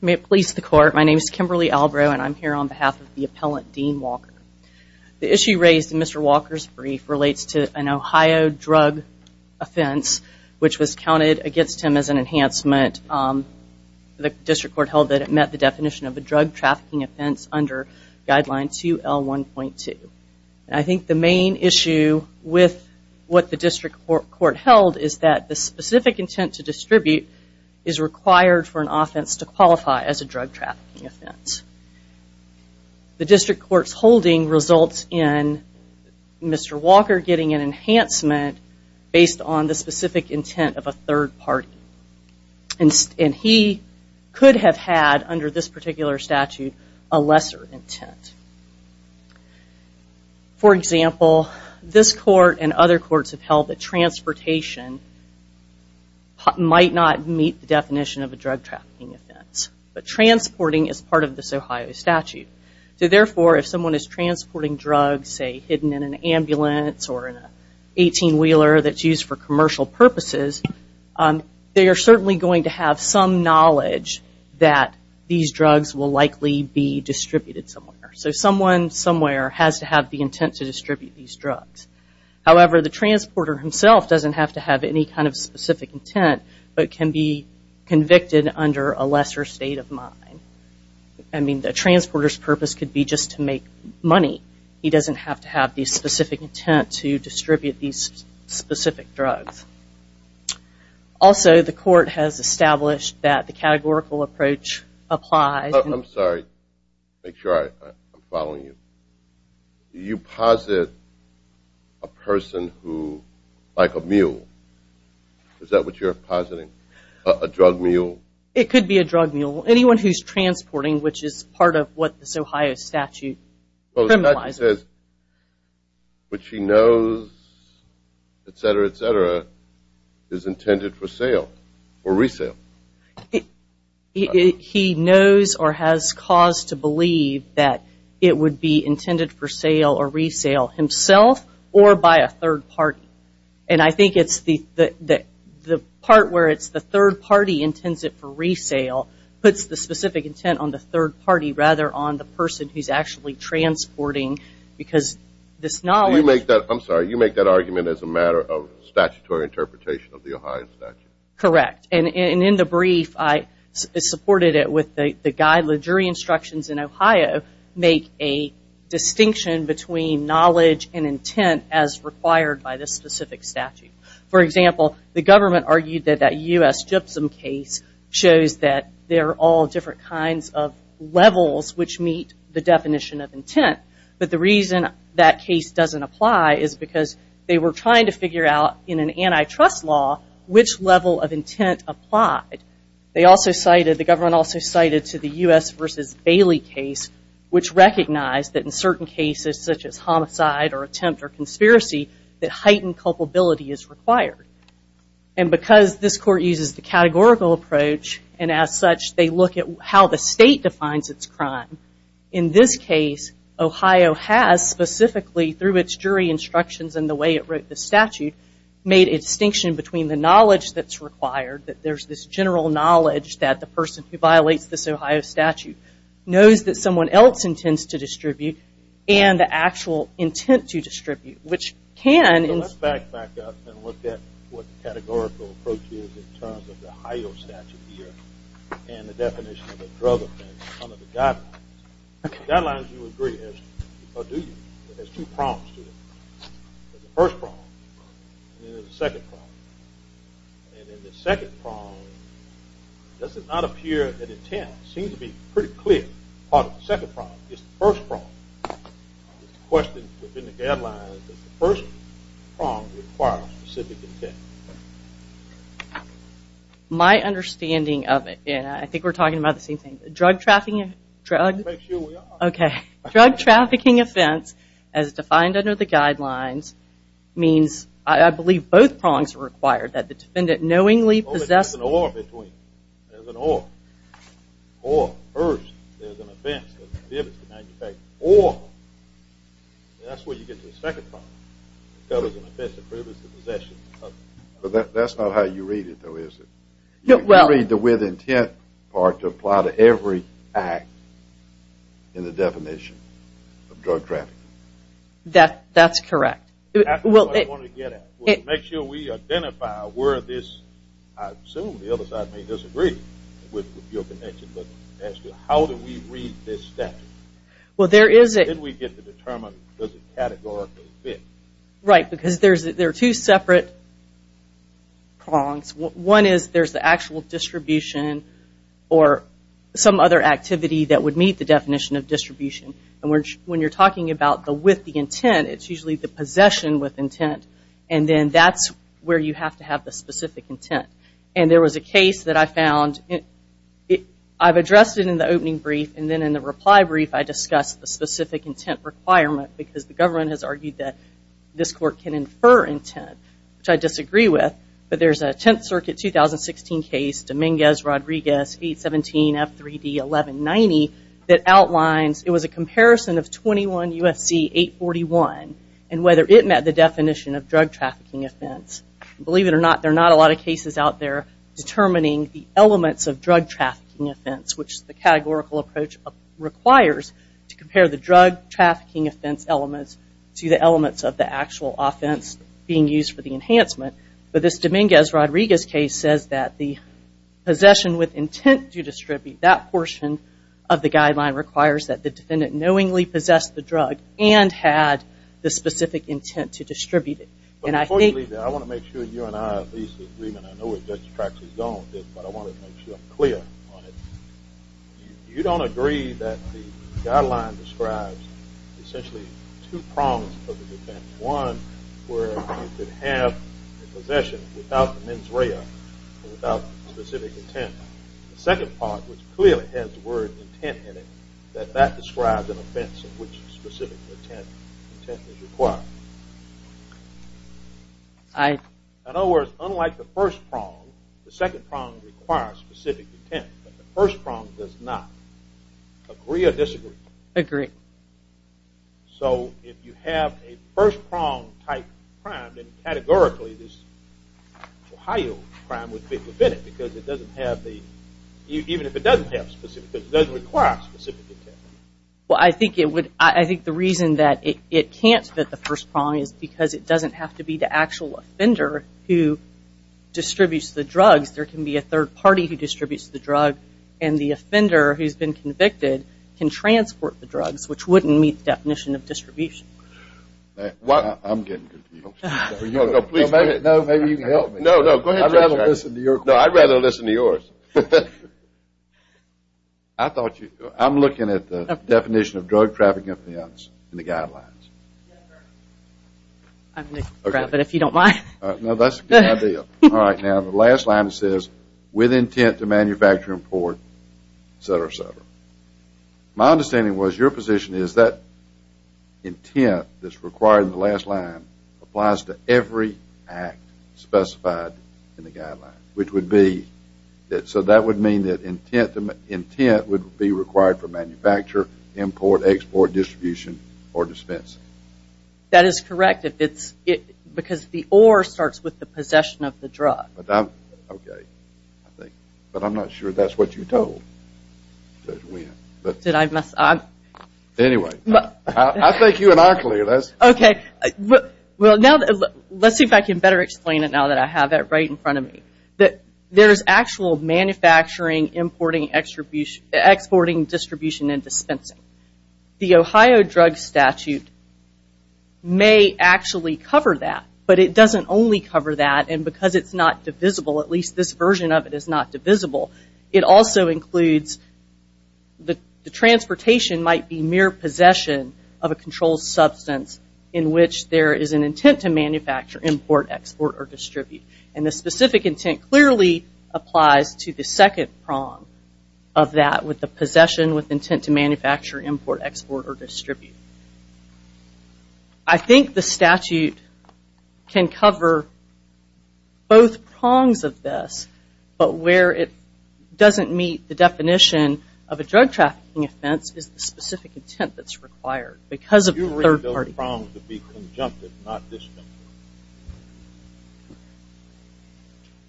May it please the court, my name is Kimberly Albrow and I'm here on behalf of the appellant Dean Walker. The issue raised in Mr. Walker's brief relates to an Ohio drug offense which was counted against him as an enhancement. The district court held that it met the definition of a drug trafficking offense under guideline 2L1.2. I think the main issue with what the specific intent to distribute is required for an offense to qualify as a drug trafficking offense. The district court's holding results in Mr. Walker getting an enhancement based on the specific intent of a third party. And he could have had under this particular statute a lesser intent. For example, this court and other courts have held that transportation might not meet the definition of a drug trafficking offense. But transporting is part of this Ohio statute. So therefore, if someone is transporting drugs, say hidden in an ambulance or an 18-wheeler that's used for commercial purposes, they are certainly going to have some knowledge that these drugs will likely be distributed somewhere. So someone somewhere has to have the intent to distribute these drugs. However, the transporter himself doesn't have to have any kind of specific intent but can be convicted under a lesser state of mind. I mean, the transporter's purpose could be just to make money. He doesn't have to have the specific intent to distribute these specific drugs. Also, the court has established that the categorical approach applies. I'm sorry. Make sure I'm following you. You posit a person who, like a mule. Is that what you're positing? A drug mule? It could be a drug mule. Anyone who's transporting, which is part of what this Ohio statute criminalizes. Which he knows, etc., etc., is intended for sale or resale. He knows or has cause to believe that it would be intended for sale or resale himself or by a third party. And I think it's the part where it's the third party intends it for resale puts the specific intent on the third party rather on the person who's actually transporting because this knowledge. I'm sorry. You make that argument as a matter of statutory interpretation of the Ohio statute. Correct. And in the brief, I supported it with the guide, the jury instructions in Ohio make a distinction between knowledge and intent as required by this specific statute. For example, a U.S. Gypsum case shows that there are all different kinds of levels which meet the definition of intent. But the reason that case doesn't apply is because they were trying to figure out in an antitrust law which level of intent applied. The government also cited to the U.S. versus Bailey case which recognized that in certain cases such as homicide or attempt or conspiracy that heightened culpability is required. And because this court uses the categorical approach and as such they look at how the state defines its crime. In this case, Ohio has specifically through its jury instructions and the way it wrote the statute made a distinction between the knowledge that's required that there's this general knowledge that the person who violates this Ohio statute knows that someone else intends to distribute and the actual intent to distribute, which can. Let's back up and look at what the categorical approach is in terms of the Ohio statute here and the definition of a drug offense under the guidelines. Guidelines you agree or do you? There's two prongs to it. There's a first prong and there's a second prong. And in the second prong, does it not appear that intent seems to be pretty clear part of the second prong? It's the first prong. The question within the guidelines is the first prong requires specific intent. My understanding of it, and I think we're talking about the same thing, drug trafficking, drug. Make sure we are. Okay. Drug trafficking offense as defined under the guidelines means, I believe both prongs are required, that the defendant knowingly possesses. There's an or between. There's an or. Or, first, there's an offense that the defendant is to manufacture. Or, that's where you get to the second prong. That's not how you read it though, is it? You read the with intent part to apply to every act in the definition of drug trafficking. That's correct. That's what I want to get at. Make sure we identify where this, I assume the other side may disagree with your connection, but as to how do we read this statute? Well, there is a... Then we get to determine, does it categorically fit? Right, because there are two separate prongs. One is there's the actual distribution or some other activity that would meet the definition of distribution. When you're talking about the with the intent, it's usually the possession with intent, and then that's where you have to have the specific intent. There was a case that I found, I've addressed it in the opening brief, and then in the reply brief, I discussed the specific intent requirement, because the government has argued that this court can infer intent, which I disagree with. But there's a 10th Circuit 2016 case, Dominguez-Rodriguez 817F3D1190, that outlines, it was a comparison of 21 UFC 841, and whether it met the definition of drug trafficking offense. Believe it or not, there are not a lot of cases out there determining the elements of drug trafficking offense, which the categorical approach requires to compare the drug trafficking offense elements to the elements of the actual offense being used for the enhancement. But this Dominguez-Rodriguez case says that the possession with intent to distribute, that portion of the guideline requires that the defendant knowingly possessed the drug, and had the specific intent to distribute it. Unfortunately, I want to make sure you and I at least agree, and I know it just attracts his don't, but I want to make sure I'm clear on it. You don't agree that the guideline describes essentially two prongs of the defense. One, where you could have the possession without the mens rea and without specific intent. The second part, which clearly has the word intent in it, that that describes an offense in which specific intent is required. In other words, unlike the first prong, the second prong requires specific intent, but the first prong does not. Agree or disagree? Agree. So, if you have a first prong type crime, then categorically this Ohio crime would fit within it, because it doesn't have the, even if it doesn't have specific intent, it doesn't require specific intent. Well, I think it would, I think the reason that it can't fit the first prong is because it doesn't have to be the actual offender who distributes the drugs. There can be a third party who distributes the drug, and the offender who's been convicted can transport the drugs, which wouldn't meet the definition of distribution. I'm getting confused. No, maybe you can help me. No, no, go ahead. I'd rather listen to yours. I thought you, I'm looking at the definition of drug traffic offense in the guidelines. I'm going to grab it if you don't mind. No, that's a good idea. All right, now the last line says, with intent to manufacture and port, et cetera, et cetera. My understanding was your position is that intent that's required in the last line applies to every act specified in the guideline, which would be, so that would mean that intent would be required for manufacture, import, export, distribution, or dispensing. That is correct, because the or starts with the possession of the drug. Okay. But I'm not sure that's what you told. Did I mess up? Anyway, I think you and I are clear. Okay. Well, now let's see if I can better explain it now that I have that right in front of me. There's actual manufacturing, importing, exporting, distribution, and dispensing. The Ohio drug statute may actually cover that, but it doesn't only cover that, and because it's not divisible, at least this version of it is not divisible, it also includes the transportation might be mere possession of a controlled substance in which there is an intent to manufacture, import, export, or distribute. And the specific intent clearly applies to the second prong of that with the possession with intent to manufacture, import, export, or distribute. I think the statute can cover both prongs of this, but where it doesn't meet the definition of a drug trafficking offense is the specific intent that's required because of the third party. You read those prongs to be conjunctive, not disjunctive.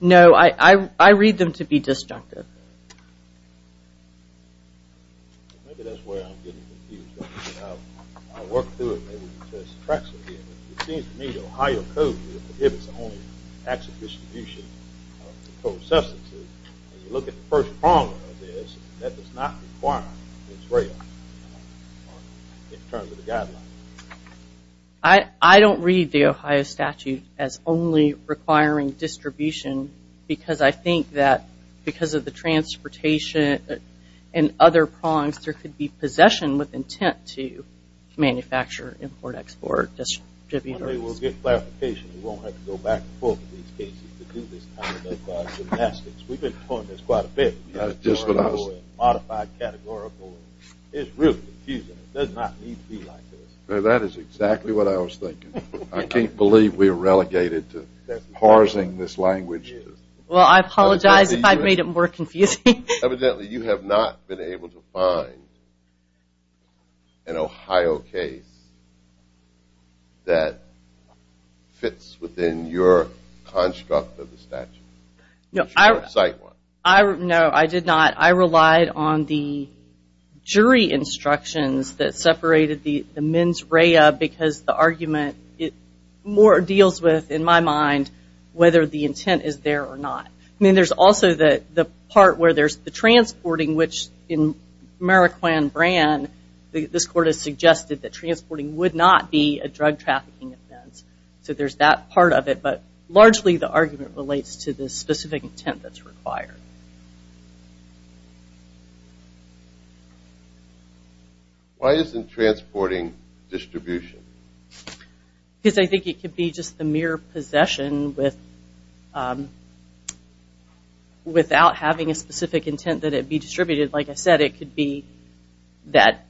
No, I read them to be disjunctive. Maybe that's where I'm getting confused. I'll work through it and maybe we can test the tracks again. It seems to me the Ohio Code prohibits the only access to distribution of controlled substances. As you look at the first prong of this, that does not require Israel in terms of the guidelines. I don't read the Ohio statute as only requiring distribution because I think that because of the transportation and other prongs, there could be possession with intent to manufacture, import, export, distribute, or distribute. We'll get clarification. We won't have to go back and forth with these cases to do this. We've been taught this quite a bit. Modified categorical is really confusing. It does not need to be like this. That is exactly what I was thinking. I can't believe we are relegated to parsing this language. Well, I apologize if I've made it more confusing. Evidently, you have not been able to find an Ohio case that fits within your construct of the statute. No, I did not. I relied on the jury instructions that separated the mens rea because the argument more deals with, in my mind, whether the intent is there or not. I mean, there's also the part where there's the transporting, which in Mariquan brand, this court has suggested that transporting would not be a drug trafficking offense. So there's that part of it, but largely the argument relates to the specific intent that's required. Why isn't transporting distribution? Because I think it could be just the mere possession without having a specific intent that it be distributed. Like I said, it could be that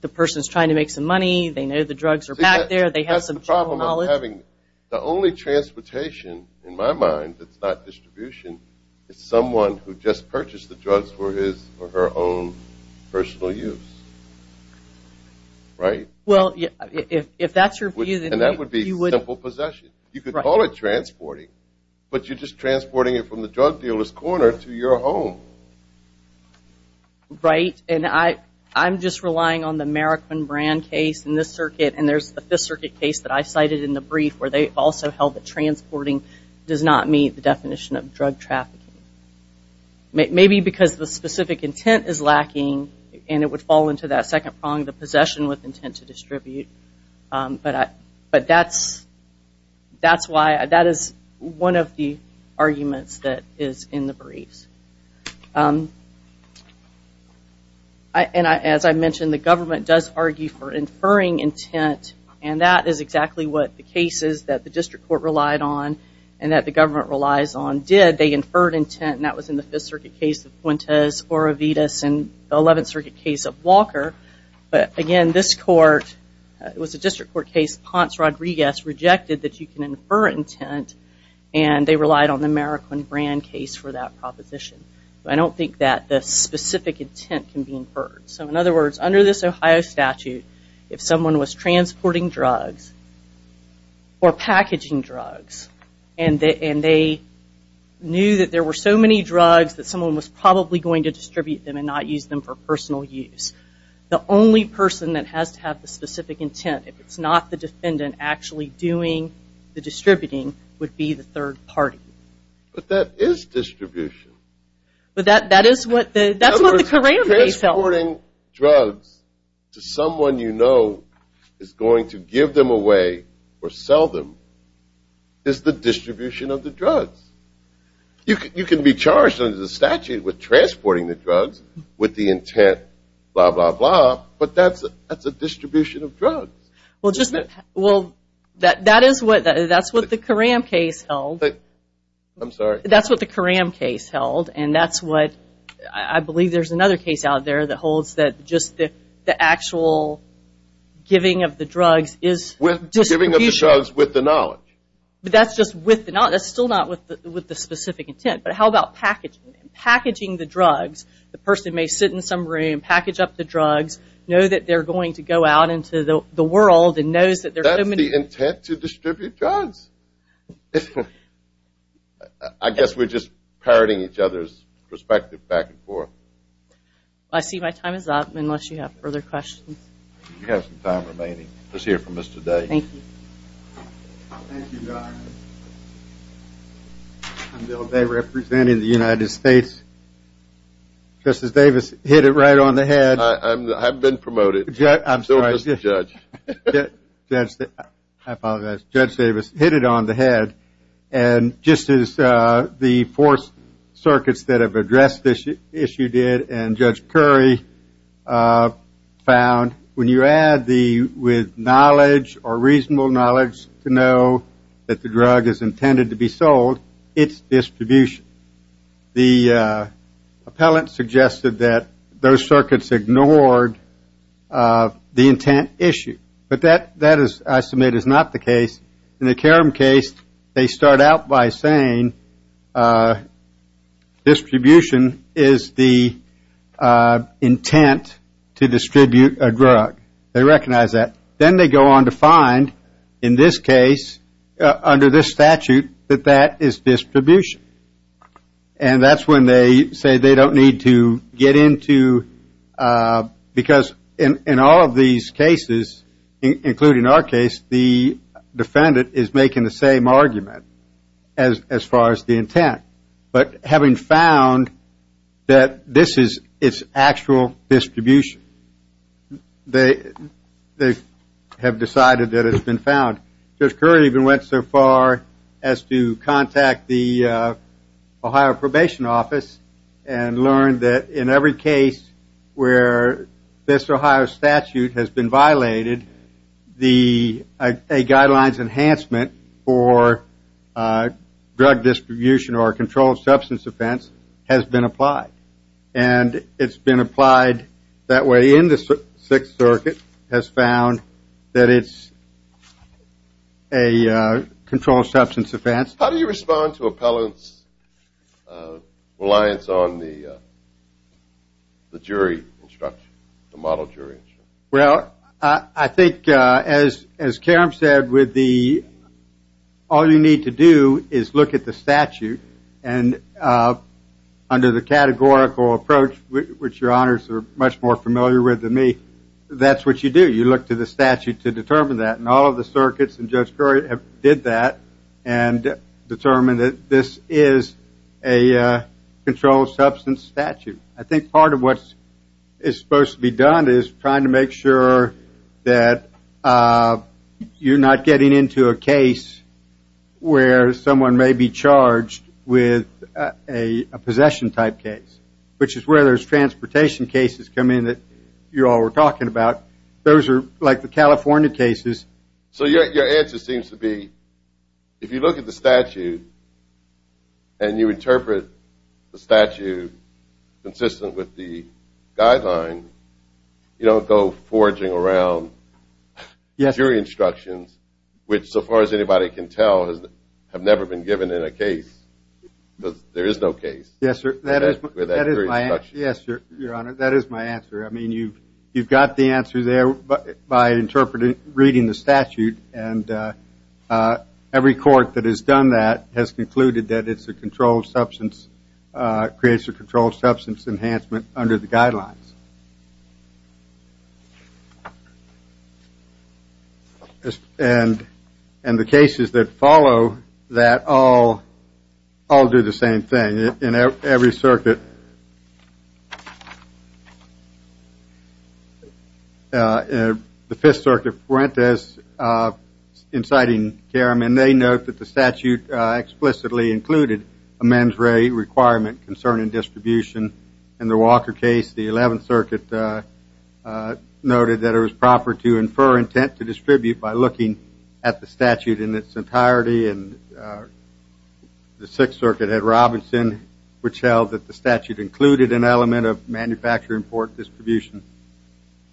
the person is trying to make some money. They know the drugs are back there. They have some general knowledge. The only transportation, in my mind, that's not distribution, is someone who just purchased the drugs for his or her own personal use, right? Well, if that's your view, then you would – And that would be simple possession. You could call it transporting, but you're just transporting it from the drug dealer's corner to your home. Right, and I'm just relying on the Mariquan brand case in this circuit, and there's the Fifth Circuit case that I cited in the brief where they also held that transporting does not meet the definition of drug trafficking. Maybe because the specific intent is lacking, and it would fall into that second prong, the possession with intent to distribute. But that's why – that is one of the arguments that is in the briefs. And as I mentioned, the government does argue for inferring intent, and that is exactly what the cases that the district court relied on and that the government relies on did. They inferred intent, and that was in the Fifth Circuit case of Fuentes, Orovitas, and the Eleventh Circuit case of Walker. But again, this court – it was a district court case. Ponce Rodriguez rejected that you can infer intent, and they relied on the Mariquan brand case for that proposition. But I don't think that the specific intent can be inferred. So in other words, under this Ohio statute, if someone was transporting drugs or packaging drugs, and they knew that there were so many drugs that someone was probably going to distribute them and not use them for personal use, the only person that has to have the specific intent, if it's not the defendant actually doing the distributing, would be the third party. But that is distribution. But that is what the – that's what the corral may sell. Transporting drugs to someone you know is going to give them away or sell them is the distribution of the drugs. You can be charged under the statute with transporting the drugs with the intent, blah, blah, blah, but that's a distribution of drugs. Well, just – well, that is what – that's what the Coram case held. I'm sorry. That's what the Coram case held, and that's what – I believe there's another case out there that holds that just the actual giving of the drugs is distribution. Giving of the drugs with the knowledge. But that's just with the knowledge. That's still not with the specific intent. But how about packaging the drugs? The person may sit in some room, package up the drugs, know that they're going to go out into the world and knows that there are so many – That's the intent to distribute drugs. I guess we're just parroting each other's perspective back and forth. I see my time is up unless you have further questions. You have some time remaining. Let's hear from Mr. Day. Thank you. Thank you, John. I'm Bill Day representing the United States. Justice Davis hit it right on the head. I've been promoted. I'm sorry. I'm still just a judge. I apologize. Judge Davis hit it on the head. And just as the four circuits that have addressed this issue did and Judge Curry found, when you add the with knowledge or reasonable knowledge to know that the drug is intended to be sold, it's distribution. The appellant suggested that those circuits ignored the intent issue. But that, I submit, is not the case. In the Karam case, they start out by saying distribution is the intent to distribute a drug. They recognize that. Then they go on to find, in this case, under this statute, that that is distribution. And that's when they say they don't need to get into – argument as far as the intent. But having found that this is its actual distribution, they have decided that it's been found. Judge Curry even went so far as to contact the Ohio Probation Office and learned that in every case where this Ohio statute has been violated, a guidelines enhancement for drug distribution or a controlled substance offense has been applied. And it's been applied that way in the Sixth Circuit, has found that it's a controlled substance offense. How do you respond to appellants' reliance on the jury instruction, the model jury instruction? Well, I think, as Karam said, all you need to do is look at the statute. And under the categorical approach, which your honors are much more familiar with than me, that's what you do. You look to the statute to determine that. And all of the circuits and Judge Curry did that and determined that this is a controlled substance statute. I think part of what is supposed to be done is trying to make sure that you're not getting into a case where someone may be charged with a possession-type case, which is where those transportation cases come in that you all were talking about. Those are like the California cases. So your answer seems to be if you look at the statute and you interpret the statute consistent with the guideline, you don't go forging around jury instructions, which, so far as anybody can tell, have never been given in a case because there is no case. Yes, sir. That is my answer. Yes, your honor, that is my answer. I mean, you've got the answer there by interpreting, reading the statute, and every court that has done that has concluded that it's a controlled substance, creates a controlled substance enhancement under the guidelines. And the cases that follow that all do the same thing. In every circuit, the Fifth Circuit, Perrantes, inciting Karam, and they note that the statute explicitly included a mens re requirement concerning distribution. In the Walker case, the 11th Circuit, noted that it was proper to infer intent to distribute by looking at the statute in its entirety, and the Sixth Circuit had Robinson, which held that the statute included an element of manufacturing import distribution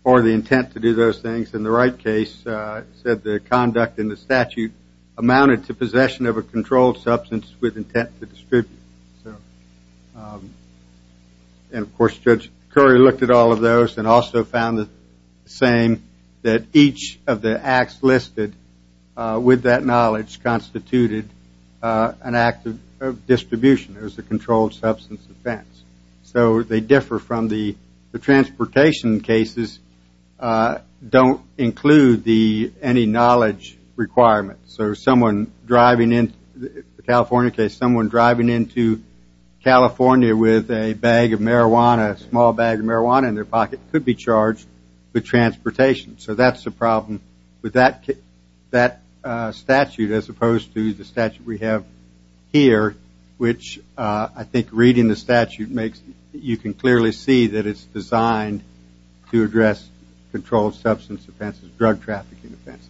for the intent to do those things. In the Wright case, it said the conduct in the statute amounted to possession of a controlled substance with intent to distribute. And, of course, Judge Curry looked at all of those and also found the same that each of the acts listed with that knowledge constituted an act of distribution as a controlled substance offense. So they differ from the transportation cases, don't include any knowledge requirements. So someone driving in, the California case, someone driving into California with a bag of marijuana, a small bag of marijuana in their pocket, could be charged with transportation. So that's the problem with that statute as opposed to the statute we have here, which I think reading the statute makes, you can clearly see that it's designed to address controlled substance offenses, drug trafficking offenses.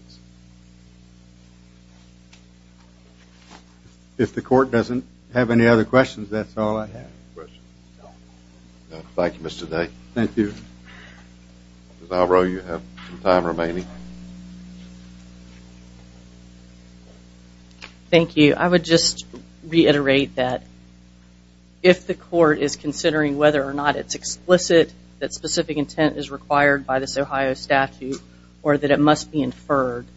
If the court doesn't have any other questions, that's all I have. Thank you, Mr. Day. Thank you. Ms. Alvaro, you have some time remaining. Thank you. I would just reiterate that if the court is considering whether or not it's explicit that specific intent is required by this Ohio statute or that it must be inferred,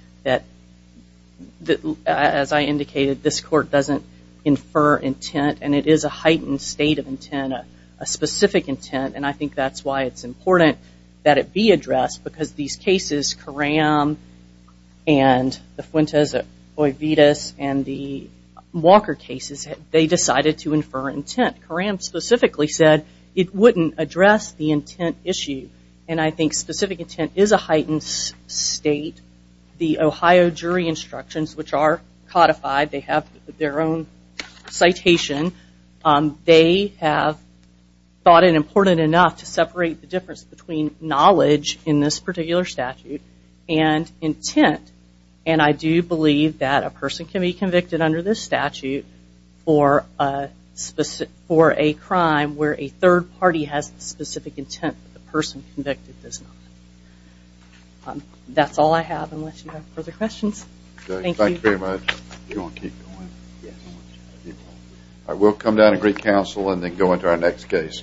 as I indicated, this court doesn't infer intent and it is a heightened state of intent, a specific intent, and I think that's why it's important that it be addressed because these cases, Karam and the Fuentes-Ovidas and the Walker cases, they decided to infer intent. Karam specifically said it wouldn't address the intent issue, and I think specific intent is a heightened state. The Ohio jury instructions, which are codified, they have their own citation, they have thought it important enough to separate the difference between knowledge in this particular statute and intent, and I do believe that a person can be convicted under this statute for a crime where a third party has specific intent but the person convicted does not. That's all I have unless you have further questions. Thank you. Thank you very much. Do you want to keep going? Yes. All right, we'll come down and greet counsel and then go into our next case.